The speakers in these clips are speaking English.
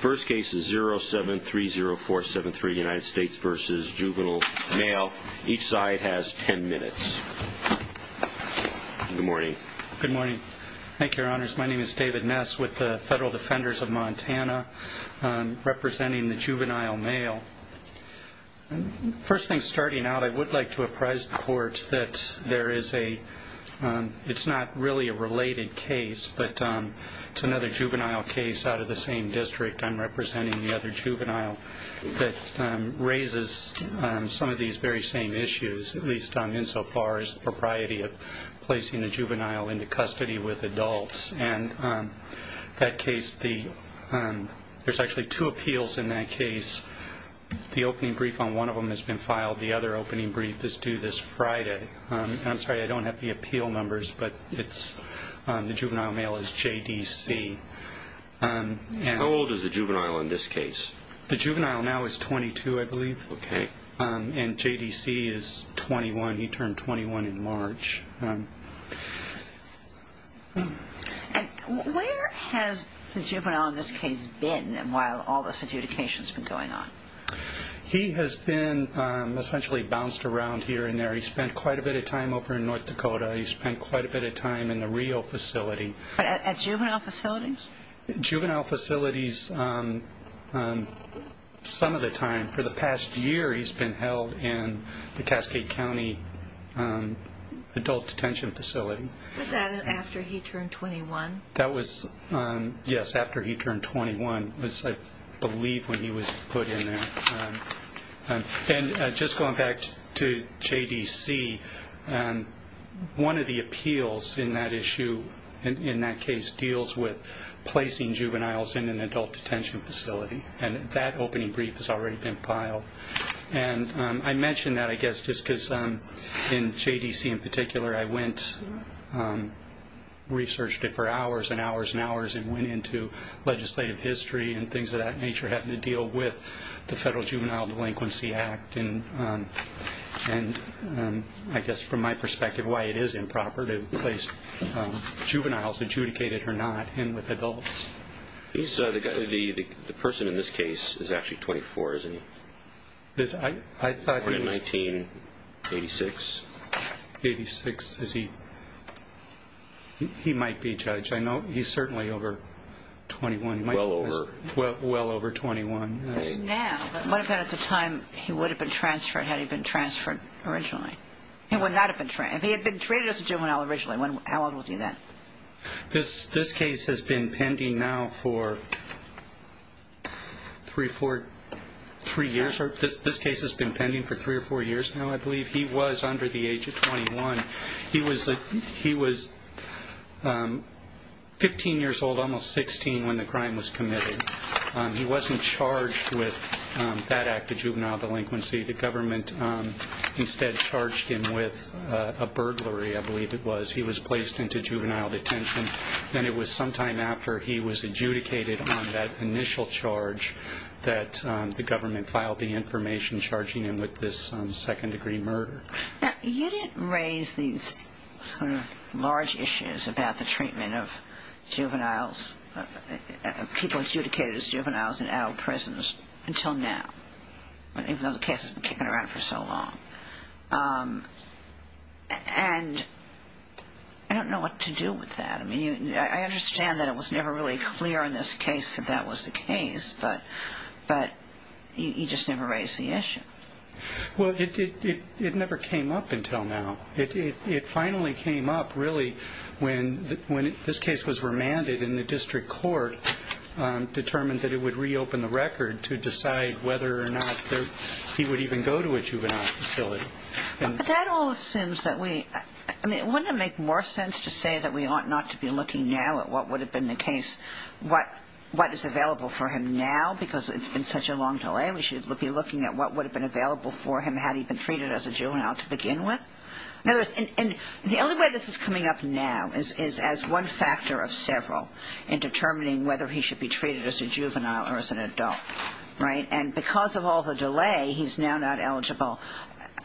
First case is 0730473 United States v. Juvenile Male. Each side has ten minutes. Good morning. Good morning. Thank you, Your Honors. My name is David Ness with the Federal Defenders of Montana, representing the Juvenile Male. First thing starting out, I would like to apprise the Court that there is a, it's not really a related case, but it's another juvenile case out of the same district. I'm representing the other juvenile that raises some of these very same issues, at least insofar as the propriety of placing the juvenile into custody with adults. And that case, the, there's actually two appeals in that case. The opening brief on one of them has been filed. The other opening brief is due this Friday. And I'm sorry, I don't have the appeal numbers, but it's, the Juvenile Male is JDC. How old is the juvenile in this case? The juvenile now is 22, I believe. Okay. And JDC is 21. He turned 21 in March. And where has the juvenile in this case been while all this adjudication has been going on? He has been essentially bounced around here and there. He spent quite a bit of time over in North Dakota. He spent quite a bit of time in the Rio facility. At juvenile facilities? Juvenile facilities, some of the time. For the past year, he's been held in the Cascade County Adult Detention Facility. Was that after he turned 21? That was, yes, after he turned 21. It was, I believe, when he was put in there. And just going back to JDC, one of the appeals in that issue, in that case, deals with placing juveniles in an adult detention facility. And that opening brief has already been filed. And I mention that, I guess, just because in JDC in particular, I went, researched it for hours and hours and hours, and went into legislative history and things of that nature, having to deal with the Federal Juvenile Delinquency Act. And I guess from my perspective, why it is improper to place juveniles, adjudicated or not, in with adults. The person in this case is actually 24, isn't he? I thought he was... Born in 1986. 1986, is he? He might be, Judge. I know he's certainly over 21. Well over. Well over 21, yes. Now, but what about at the time he would have been transferred, had he been transferred originally? He would not have been transferred. If he had been treated as a juvenile originally, how old was he then? This case has been pending now for three or four years. I believe he was under the age of 21. He was 15 years old, almost 16, when the crime was committed. He wasn't charged with that act of juvenile delinquency. The government instead charged him with a burglary, I believe it was. He was placed into juvenile detention, and it was sometime after he was adjudicated on that initial charge that the government filed the information charging him with this second-degree murder. Now, you didn't raise these sort of large issues about the treatment of juveniles, people adjudicated as juveniles in adult prisons, until now. Even though the case has been kicking around for so long. And I don't know what to do with that. I mean, I understand that it was never really clear in this case that that was the case, but you just never raised the issue. Well, it never came up until now. It finally came up, really, when this case was remanded, and the district court determined that it would reopen the record to decide whether or not he would even go to a juvenile facility. But that all assumes that we – I mean, wouldn't it make more sense to say that we ought not to be looking now at what would have been the case, what is available for him now, because it's been such a long delay? We should be looking at what would have been available for him had he been treated as a juvenile to begin with? In other words, the only way this is coming up now is as one factor of several in determining whether he should be treated as a juvenile or as an adult, right? And because of all the delay, he's now not eligible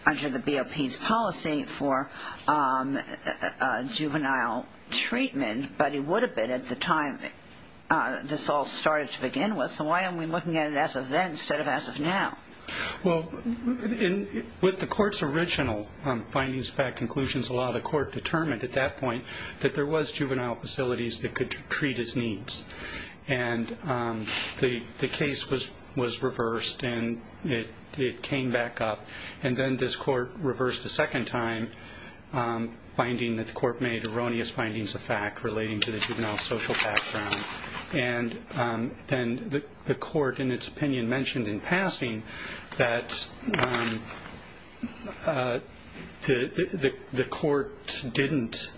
under the BOP's policy for juvenile treatment, but he would have been at the time this all started to begin with. So why are we looking at it as of then instead of as of now? Well, with the court's original findings, fact, conclusions, a lot of the court determined at that point that there was juvenile facilities that could treat his needs. And the case was reversed, and it came back up. And then this court reversed a second time, finding that the court made erroneous findings of fact relating to the juvenile social background. And then the court in its opinion mentioned in passing that the court didn't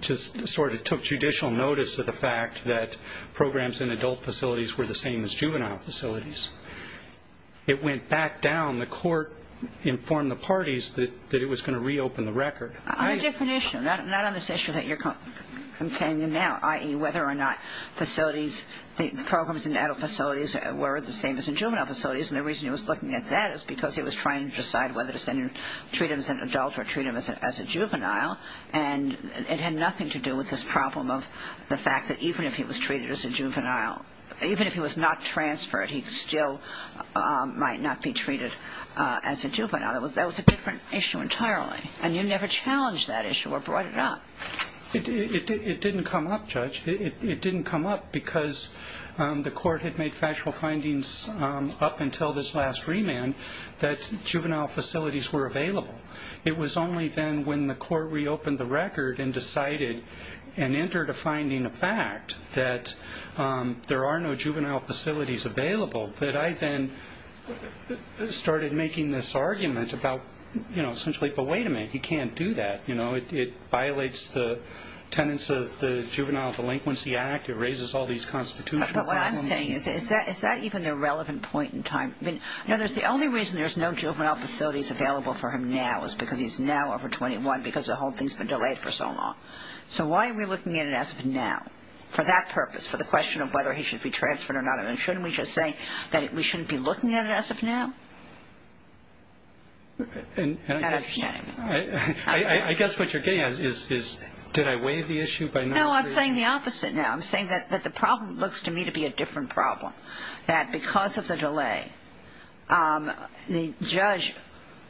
just sort of took judicial notice of the fact that programs in adult facilities were the same as juvenile facilities. It went back down. The court informed the parties that it was going to reopen the record. On a different issue, not on this issue that you're containing now, i.e., whether or not the programs in adult facilities were the same as in juvenile facilities. And the reason he was looking at that is because he was trying to decide whether to treat him as an adult or treat him as a juvenile. And it had nothing to do with this problem of the fact that even if he was not transferred, he still might not be treated as a juvenile. That was a different issue entirely. And you never challenged that issue or brought it up. It didn't come up, Judge. It didn't come up because the court had made factual findings up until this last remand that juvenile facilities were available. It was only then when the court reopened the record and decided and entered a finding of fact that there are no juvenile facilities available that I then started making this argument about, you know, essentially, but wait a minute, he can't do that. You know, it violates the tenets of the Juvenile Delinquency Act. It raises all these constitutional problems. But what I'm saying is, is that even a relevant point in time? You know, the only reason there's no juvenile facilities available for him now is because he's now over 21 because the whole thing's been delayed for so long. So why are we looking at it as of now for that purpose, for the question of whether he should be transferred or not? And shouldn't we just say that we shouldn't be looking at it as of now? I guess what you're getting at is, did I waive the issue? No, I'm saying the opposite now. I'm saying that the problem looks to me to be a different problem, that because of the delay, the judge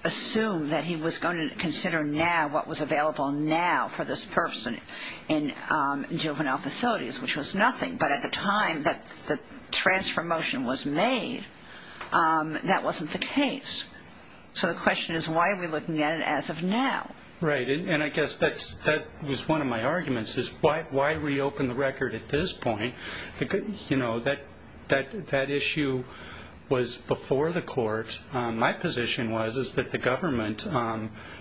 assumed that he was going to consider now what was available now for this person in juvenile facilities, which was nothing. But at the time that the transfer motion was made, that wasn't the case. So the question is, why are we looking at it as of now? Right, and I guess that was one of my arguments, is why reopen the record at this point? You know, that issue was before the court. My position was that the government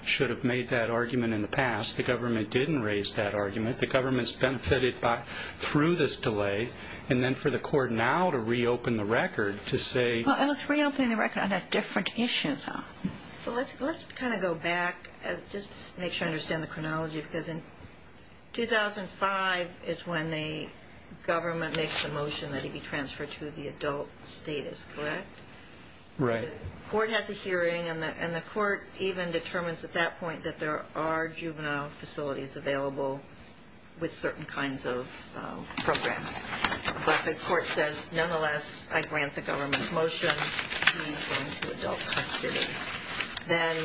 should have made that argument in the past. The government didn't raise that argument. The government's benefited through this delay. And then for the court now to reopen the record to say— Well, it was reopening the record on a different issue, though. Well, let's kind of go back, just to make sure I understand the chronology, because in 2005 is when the government makes the motion that he be transferred to the adult status, correct? Right. The court has a hearing, and the court even determines at that point that there are juvenile facilities available with certain kinds of programs. But the court says, nonetheless, I grant the government's motion. He's going to adult custody. Then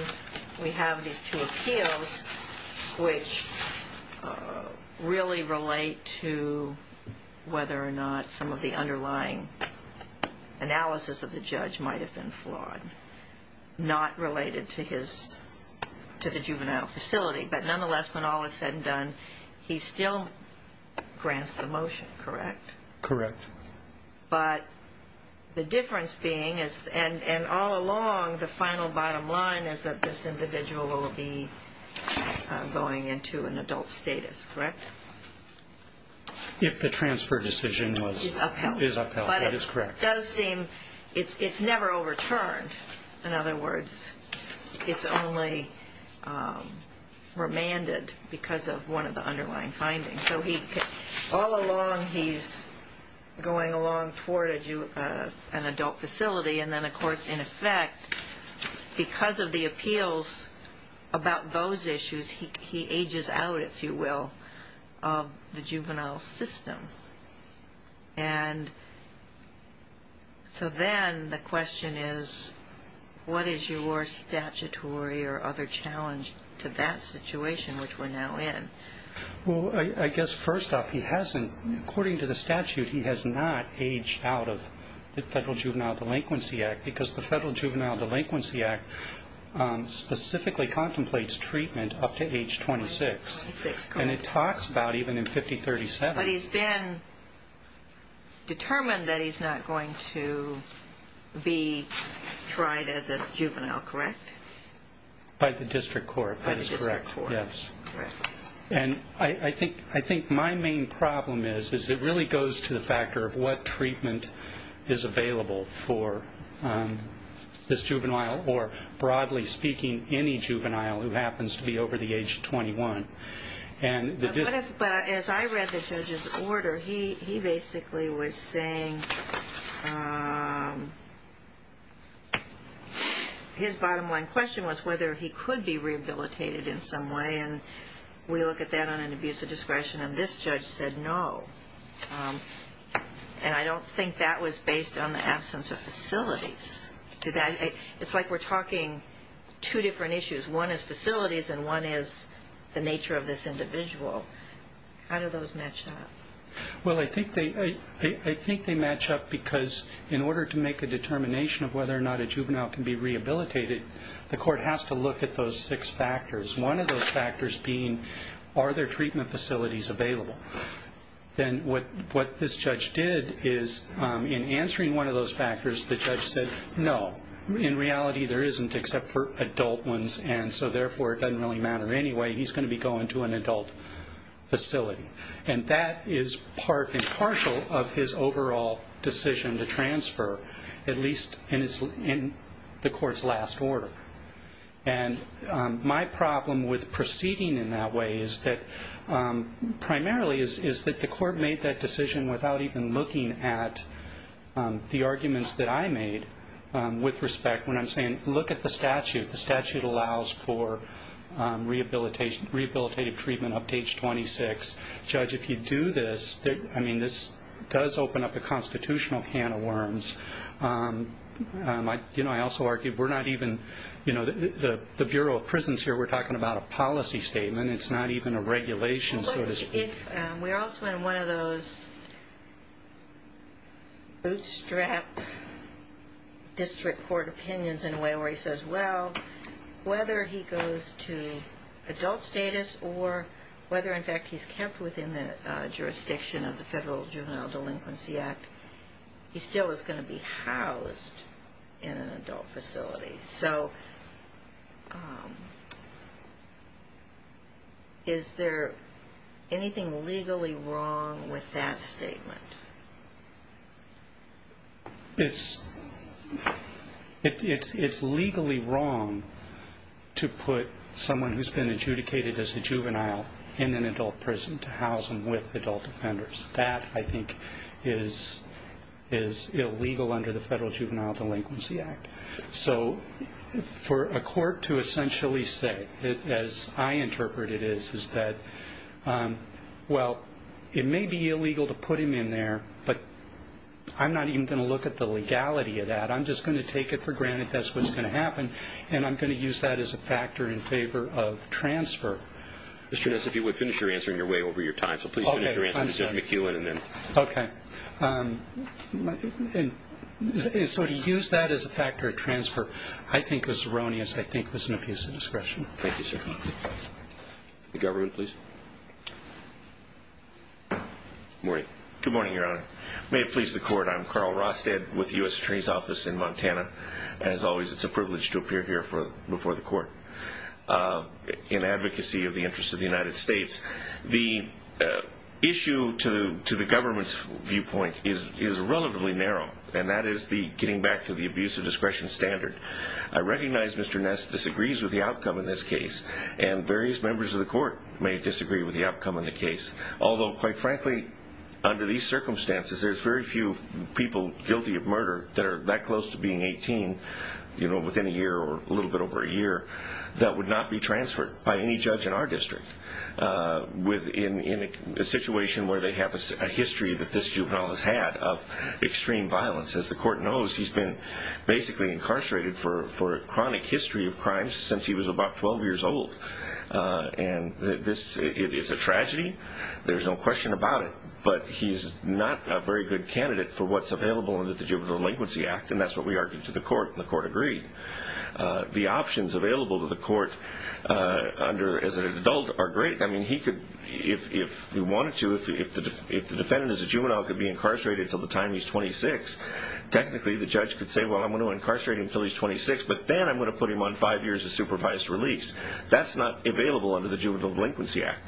we have these two appeals, which really relate to whether or not some of the underlying analysis of the judge might have been flawed, not related to the juvenile facility. But nonetheless, when all is said and done, he still grants the motion, correct? Correct. But the difference being, and all along the final bottom line, is that this individual will be going into an adult status, correct? If the transfer decision is upheld, that is correct. It's never overturned. In other words, it's only remanded because of one of the underlying findings. So all along, he's going along toward an adult facility, and then, of course, in effect, because of the appeals about those issues, he ages out, if you will, of the juvenile system. And so then the question is, what is your statutory or other challenge to that situation, which we're now in? Well, I guess first off, he hasn't, according to the statute, he has not aged out of the Federal Juvenile Delinquency Act because the Federal Juvenile Delinquency Act specifically contemplates treatment up to age 26. And it talks about even in 5037. But he's been determined that he's not going to be tried as a juvenile, correct? By the district court. By the district court. Yes. Correct. And I think my main problem is, is it really goes to the factor of what treatment is available for this juvenile, or broadly speaking, any juvenile who happens to be over the age of 21. But as I read the judge's order, he basically was saying, his bottom line question was whether he could be rehabilitated in some way, and we look at that on an abuse of discretion, and this judge said no. And I don't think that was based on the absence of facilities. It's like we're talking two different issues. One is facilities and one is the nature of this individual. How do those match up? Well, I think they match up because in order to make a determination of whether or not a juvenile can be rehabilitated, the court has to look at those six factors. One of those factors being, are there treatment facilities available? Then what this judge did is, in answering one of those factors, the judge said no. In reality, there isn't except for adult ones, and so therefore it doesn't really matter anyway. He's going to be going to an adult facility. And that is part and partial of his overall decision to transfer, at least in the court's last order. And my problem with proceeding in that way is that primarily is that the court made that decision without even looking at the arguments that I made with respect when I'm saying look at the statute. The statute allows for rehabilitative treatment up to age 26. Judge, if you do this, I mean, this does open up a constitutional can of worms. You know, I also argue we're not even, you know, the Bureau of Prisons here, we're talking about a policy statement. It's not even a regulation, so to speak. If we're also in one of those bootstrap district court opinions, in a way, where he says, well, whether he goes to adult status or whether, in fact, he's kept within the jurisdiction of the Federal Juvenile Delinquency Act, he still is going to be housed in an adult facility. So is there anything legally wrong with that statement? It's legally wrong to put someone who's been adjudicated as a juvenile in an adult prison to house them with adult offenders. That, I think, is illegal under the Federal Juvenile Delinquency Act. So for a court to essentially say, as I interpret it is, is that, well, it may be illegal to put him in there, but I'm not even going to look at the legality of that. I'm just going to take it for granted that's what's going to happen, and I'm going to use that as a factor in favor of transfer. Mr. Ness, if you would, finish your answer on your way over your time. So please finish your answer, Judge McEwen, and then. Okay. So to use that as a factor of transfer, I think, is erroneous. I think it was an abuse of discretion. Thank you, sir. The government, please. Good morning, Your Honor. May it please the Court, I'm Carl Rostead with the U.S. Attorney's Office in Montana. As always, it's a privilege to appear here before the Court in advocacy of the interests of the United States. The issue to the government's viewpoint is relatively narrow, and that is getting back to the abuse of discretion standard. I recognize Mr. Ness disagrees with the outcome of this case, and various members of the Court may disagree with the outcome of the case, although, quite frankly, under these circumstances, there's very few people guilty of murder that are that close to being 18, you know, within a year or a little bit over a year, that would not be transferred by any judge in our district. Within a situation where they have a history that this juvenile has had of extreme violence, as the Court knows, he's been basically incarcerated for a chronic history of crimes since he was about 12 years old. And it's a tragedy. There's no question about it. But he's not a very good candidate for what's available under the Juvenile Delinquency Act, and that's what we argued to the Court, and the Court agreed. The options available to the Court as an adult are great. I mean, he could, if he wanted to, if the defendant is a juvenile who could be incarcerated until the time he's 26, technically the judge could say, well, I'm going to incarcerate him until he's 26, but then I'm going to put him on five years of supervised release. That's not available under the Juvenile Delinquency Act.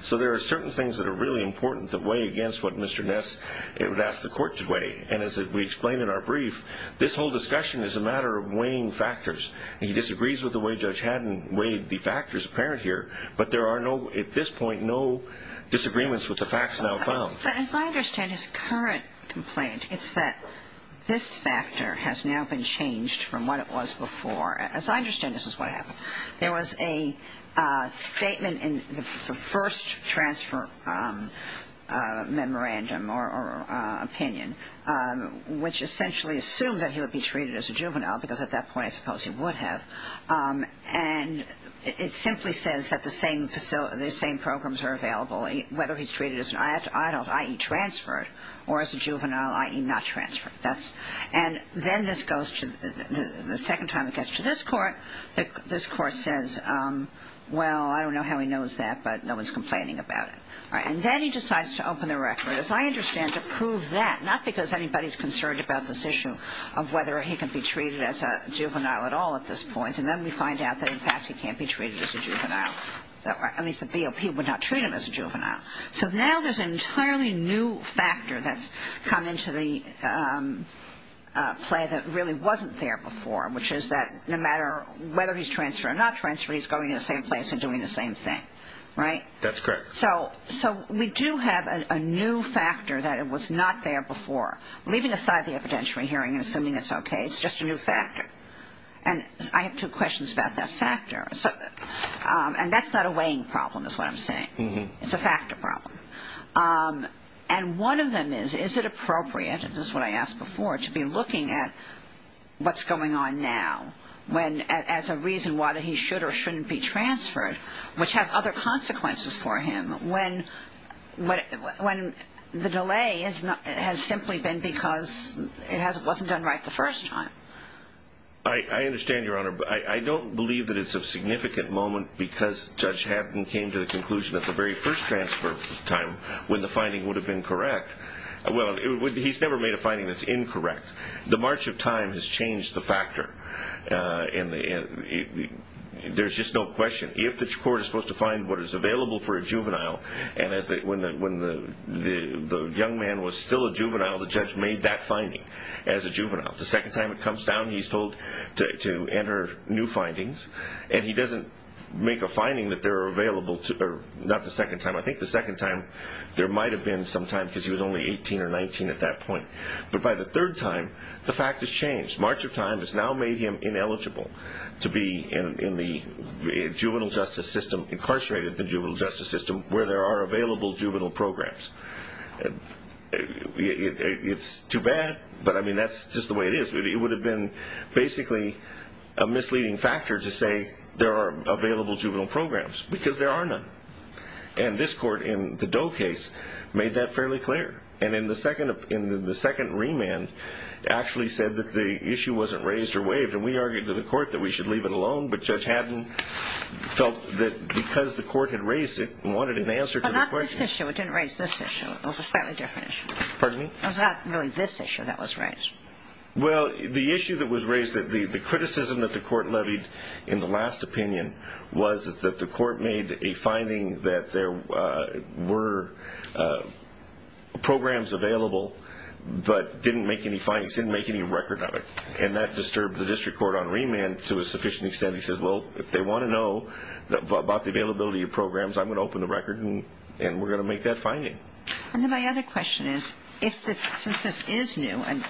So there are certain things that are really important that weigh against what Mr. Ness would ask the Court to weigh. And as we explained in our brief, this whole discussion is a matter of weighing factors. He disagrees with the way Judge Haddon weighed the factors apparent here, but there are at this point no disagreements with the facts now found. But as I understand his current complaint, it's that this factor has now been changed from what it was before. As I understand, this is what happened. There was a statement in the first transfer memorandum or opinion, which essentially assumed that he would be treated as a juvenile, because at that point I suppose he would have. And it simply says that the same programs are available, whether he's treated as an adult, i.e. transferred, or as a juvenile, i.e. not transferred. And then the second time it gets to this Court, this Court says, well, I don't know how he knows that, but no one's complaining about it. And then he decides to open the record, as I understand, to prove that, not because anybody's concerned about this issue of whether he can be treated as a juvenile at all at this point. And then we find out that, in fact, he can't be treated as a juvenile. At least the BOP would not treat him as a juvenile. So now there's an entirely new factor that's come into the play that really wasn't there before, which is that no matter whether he's transferred or not transferred, he's going to the same place and doing the same thing. Right? That's correct. So we do have a new factor that was not there before. Leaving aside the evidentiary hearing and assuming it's okay, it's just a new factor. And I have two questions about that factor. And that's not a weighing problem, is what I'm saying. It's a factor problem. And one of them is, is it appropriate, and this is what I asked before, to be looking at what's going on now as a reason why he should or shouldn't be transferred, which has other consequences for him, when the delay has simply been because it wasn't done right the first time? I understand, Your Honor. I don't believe that it's a significant moment because Judge Haddon came to the conclusion at the very first transfer time when the finding would have been correct. Well, he's never made a finding that's incorrect. The march of time has changed the factor. There's just no question. If the court is supposed to find what is available for a juvenile, and when the young man was still a juvenile, the judge made that finding as a juvenile. The second time it comes down, he's told to enter new findings, and he doesn't make a finding that they're available, not the second time. I think the second time there might have been some time because he was only 18 or 19 at that point. But by the third time, the fact has changed. March of time has now made him ineligible to be in the juvenile justice system, incarcerated in the juvenile justice system, where there are available juvenile programs. It's too bad, but, I mean, that's just the way it is. It would have been basically a misleading factor to say there are available juvenile programs because there are none. And this court in the Doe case made that fairly clear. And in the second remand actually said that the issue wasn't raised or waived, and we argued to the court that we should leave it alone, but Judge Haddon felt that because the court had raised it and wanted an answer to the question. It didn't raise this issue. It was a slightly different issue. Pardon me? It was not really this issue that was raised. Well, the issue that was raised, the criticism that the court levied in the last opinion, was that the court made a finding that there were programs available but didn't make any findings, didn't make any record of it, and that disturbed the district court on remand to a sufficient extent. And we're going to make that finding. And then my other question is, since this is new and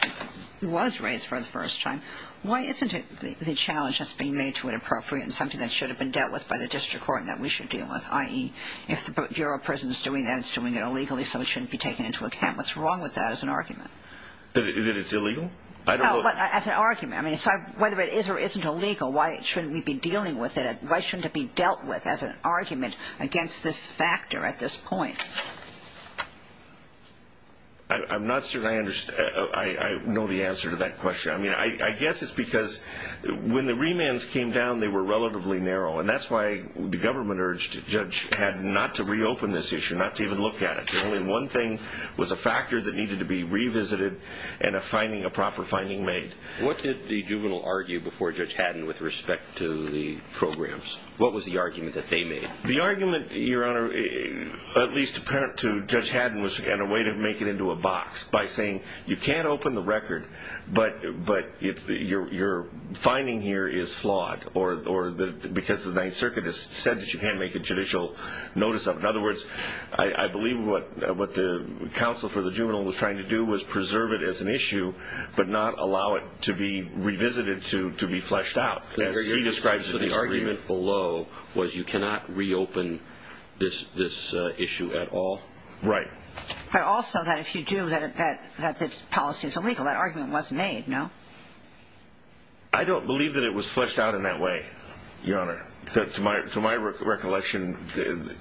was raised for the first time, why isn't it the challenge that's being made to it appropriate and something that should have been dealt with by the district court and that we should deal with, i.e., if the Bureau of Prisons is doing that, it's doing it illegally, so it shouldn't be taken into account. What's wrong with that as an argument? That it's illegal? No, but as an argument. I mean, whether it is or isn't illegal, why shouldn't we be dealing with it? Why shouldn't it be dealt with as an argument against this factor at this point? I'm not certain I know the answer to that question. I mean, I guess it's because when the remands came down, they were relatively narrow, and that's why the government urged Judge Haddon not to reopen this issue, not to even look at it. The only one thing was a factor that needed to be revisited and a proper finding made. What did the juvenile argue before Judge Haddon with respect to the programs? What was the argument that they made? The argument, Your Honor, at least apparent to Judge Haddon, was in a way to make it into a box by saying you can't open the record, but your finding here is flawed because the Ninth Circuit has said that you can't make a judicial notice of it. In other words, I believe what the counsel for the juvenile was trying to do was preserve it as an issue but not allow it to be revisited to be fleshed out. So the argument below was you cannot reopen this issue at all? Right. But also that if you do, that the policy is illegal. That argument was made, no? I don't believe that it was fleshed out in that way, Your Honor. To my recollection, the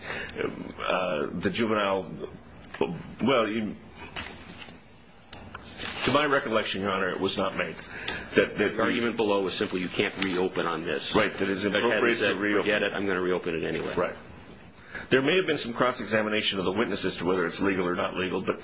juvenile, well, to my recollection, Your Honor, it was not made. The argument below was simply you can't reopen on this. Right. Judge Haddon said forget it, I'm going to reopen it anyway. Right. There may have been some cross-examination of the witness as to whether it's legal or not legal, but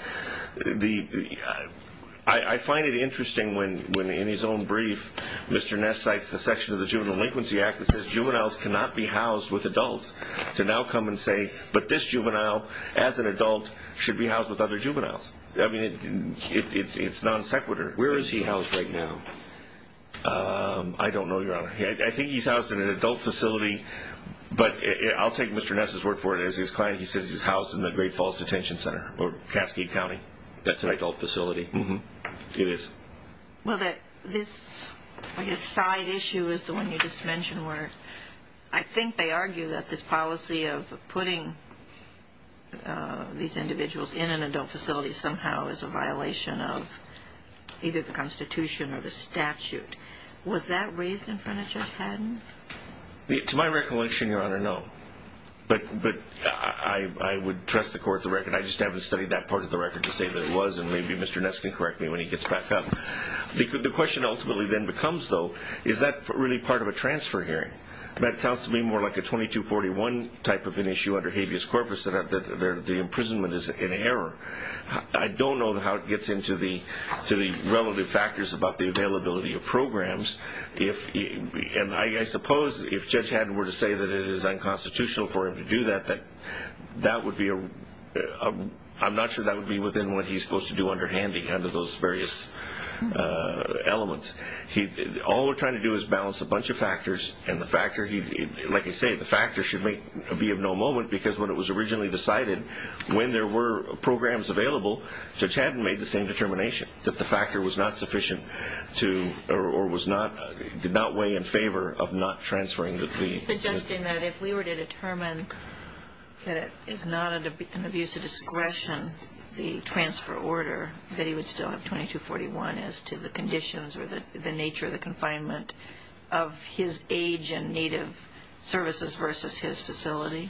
I find it interesting when in his own brief Mr. Ness cites the section of the Juvenile Delinquency Act that says juveniles cannot be housed with adults to now come and say, but this juvenile as an adult should be housed with other juveniles. I mean, it's non-sequitur. Where is he housed right now? I don't know, Your Honor. I think he's housed in an adult facility, but I'll take Mr. Ness's word for it. As his client, he says he's housed in the Great Falls Detention Center or Cascade County. That's an adult facility? Mm-hmm. It is. Well, this side issue is the one you just mentioned where I think they argue that this policy of putting these individuals in an adult facility somehow is a violation of either the Constitution or the statute. Was that raised in front of Judge Haddon? To my recollection, Your Honor, no. But I would trust the court's record. I just haven't studied that part of the record to say that it was, and maybe Mr. Ness can correct me when he gets back up. The question ultimately then becomes, though, is that really part of a transfer hearing? That sounds to me more like a 2241 type of an issue under habeas corpus that the imprisonment is in error. I don't know how it gets into the relative factors about the availability of programs. And I suppose if Judge Haddon were to say that it is unconstitutional for him to do that, I'm not sure that would be within what he's supposed to do under Handy under those various elements. All we're trying to do is balance a bunch of factors. Like I say, the factors should be of no moment because when it was originally decided, when there were programs available, Judge Haddon made the same determination, that the factor was not sufficient or did not weigh in favor of not transferring the fee. Are you suggesting that if we were to determine that it is not an abuse of discretion, the transfer order, that he would still have 2241 as to the conditions or the nature of the confinement of his age and need of services versus his facility?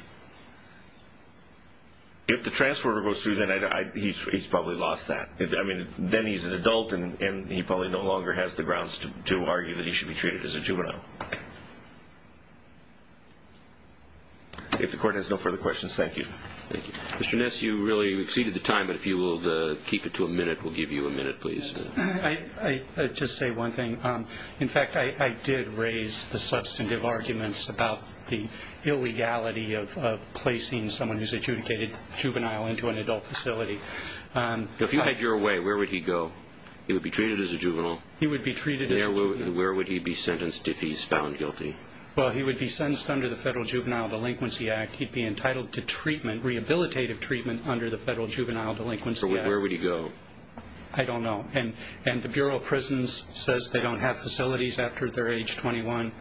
If the transfer order goes through, then he's probably lost that. Then he's an adult and he probably no longer has the grounds to argue that he should be treated as a juvenile. If the Court has no further questions, thank you. Thank you. Mr. Ness, you really exceeded the time, but if you will keep it to a minute, we'll give you a minute, please. I'll just say one thing. In fact, I did raise the substantive arguments about the illegality of placing someone who's adjudicated juvenile into an adult facility. If you had your way, where would he go? He would be treated as a juvenile. He would be treated as a juvenile. Where would he be sentenced if he's found guilty? He would be sentenced under the Federal Juvenile Delinquency Act. He'd be entitled to rehabilitative treatment under the Federal Juvenile Delinquency Act. Where would he go? I don't know. The Bureau of Prisons says they don't have facilities after they're age 21.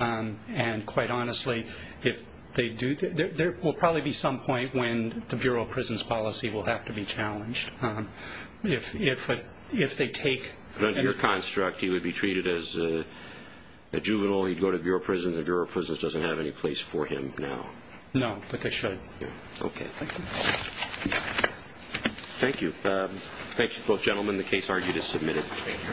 And quite honestly, if they do, there will probably be some point when the Bureau of Prisons policy will have to be challenged. If they take… Under your construct, he would be treated as a juvenile. He'd go to Bureau of Prisons. The Bureau of Prisons doesn't have any place for him now. No, but they should. Okay, thank you. Thank you. Thank you, both gentlemen. The case argued is submitted. Thank you.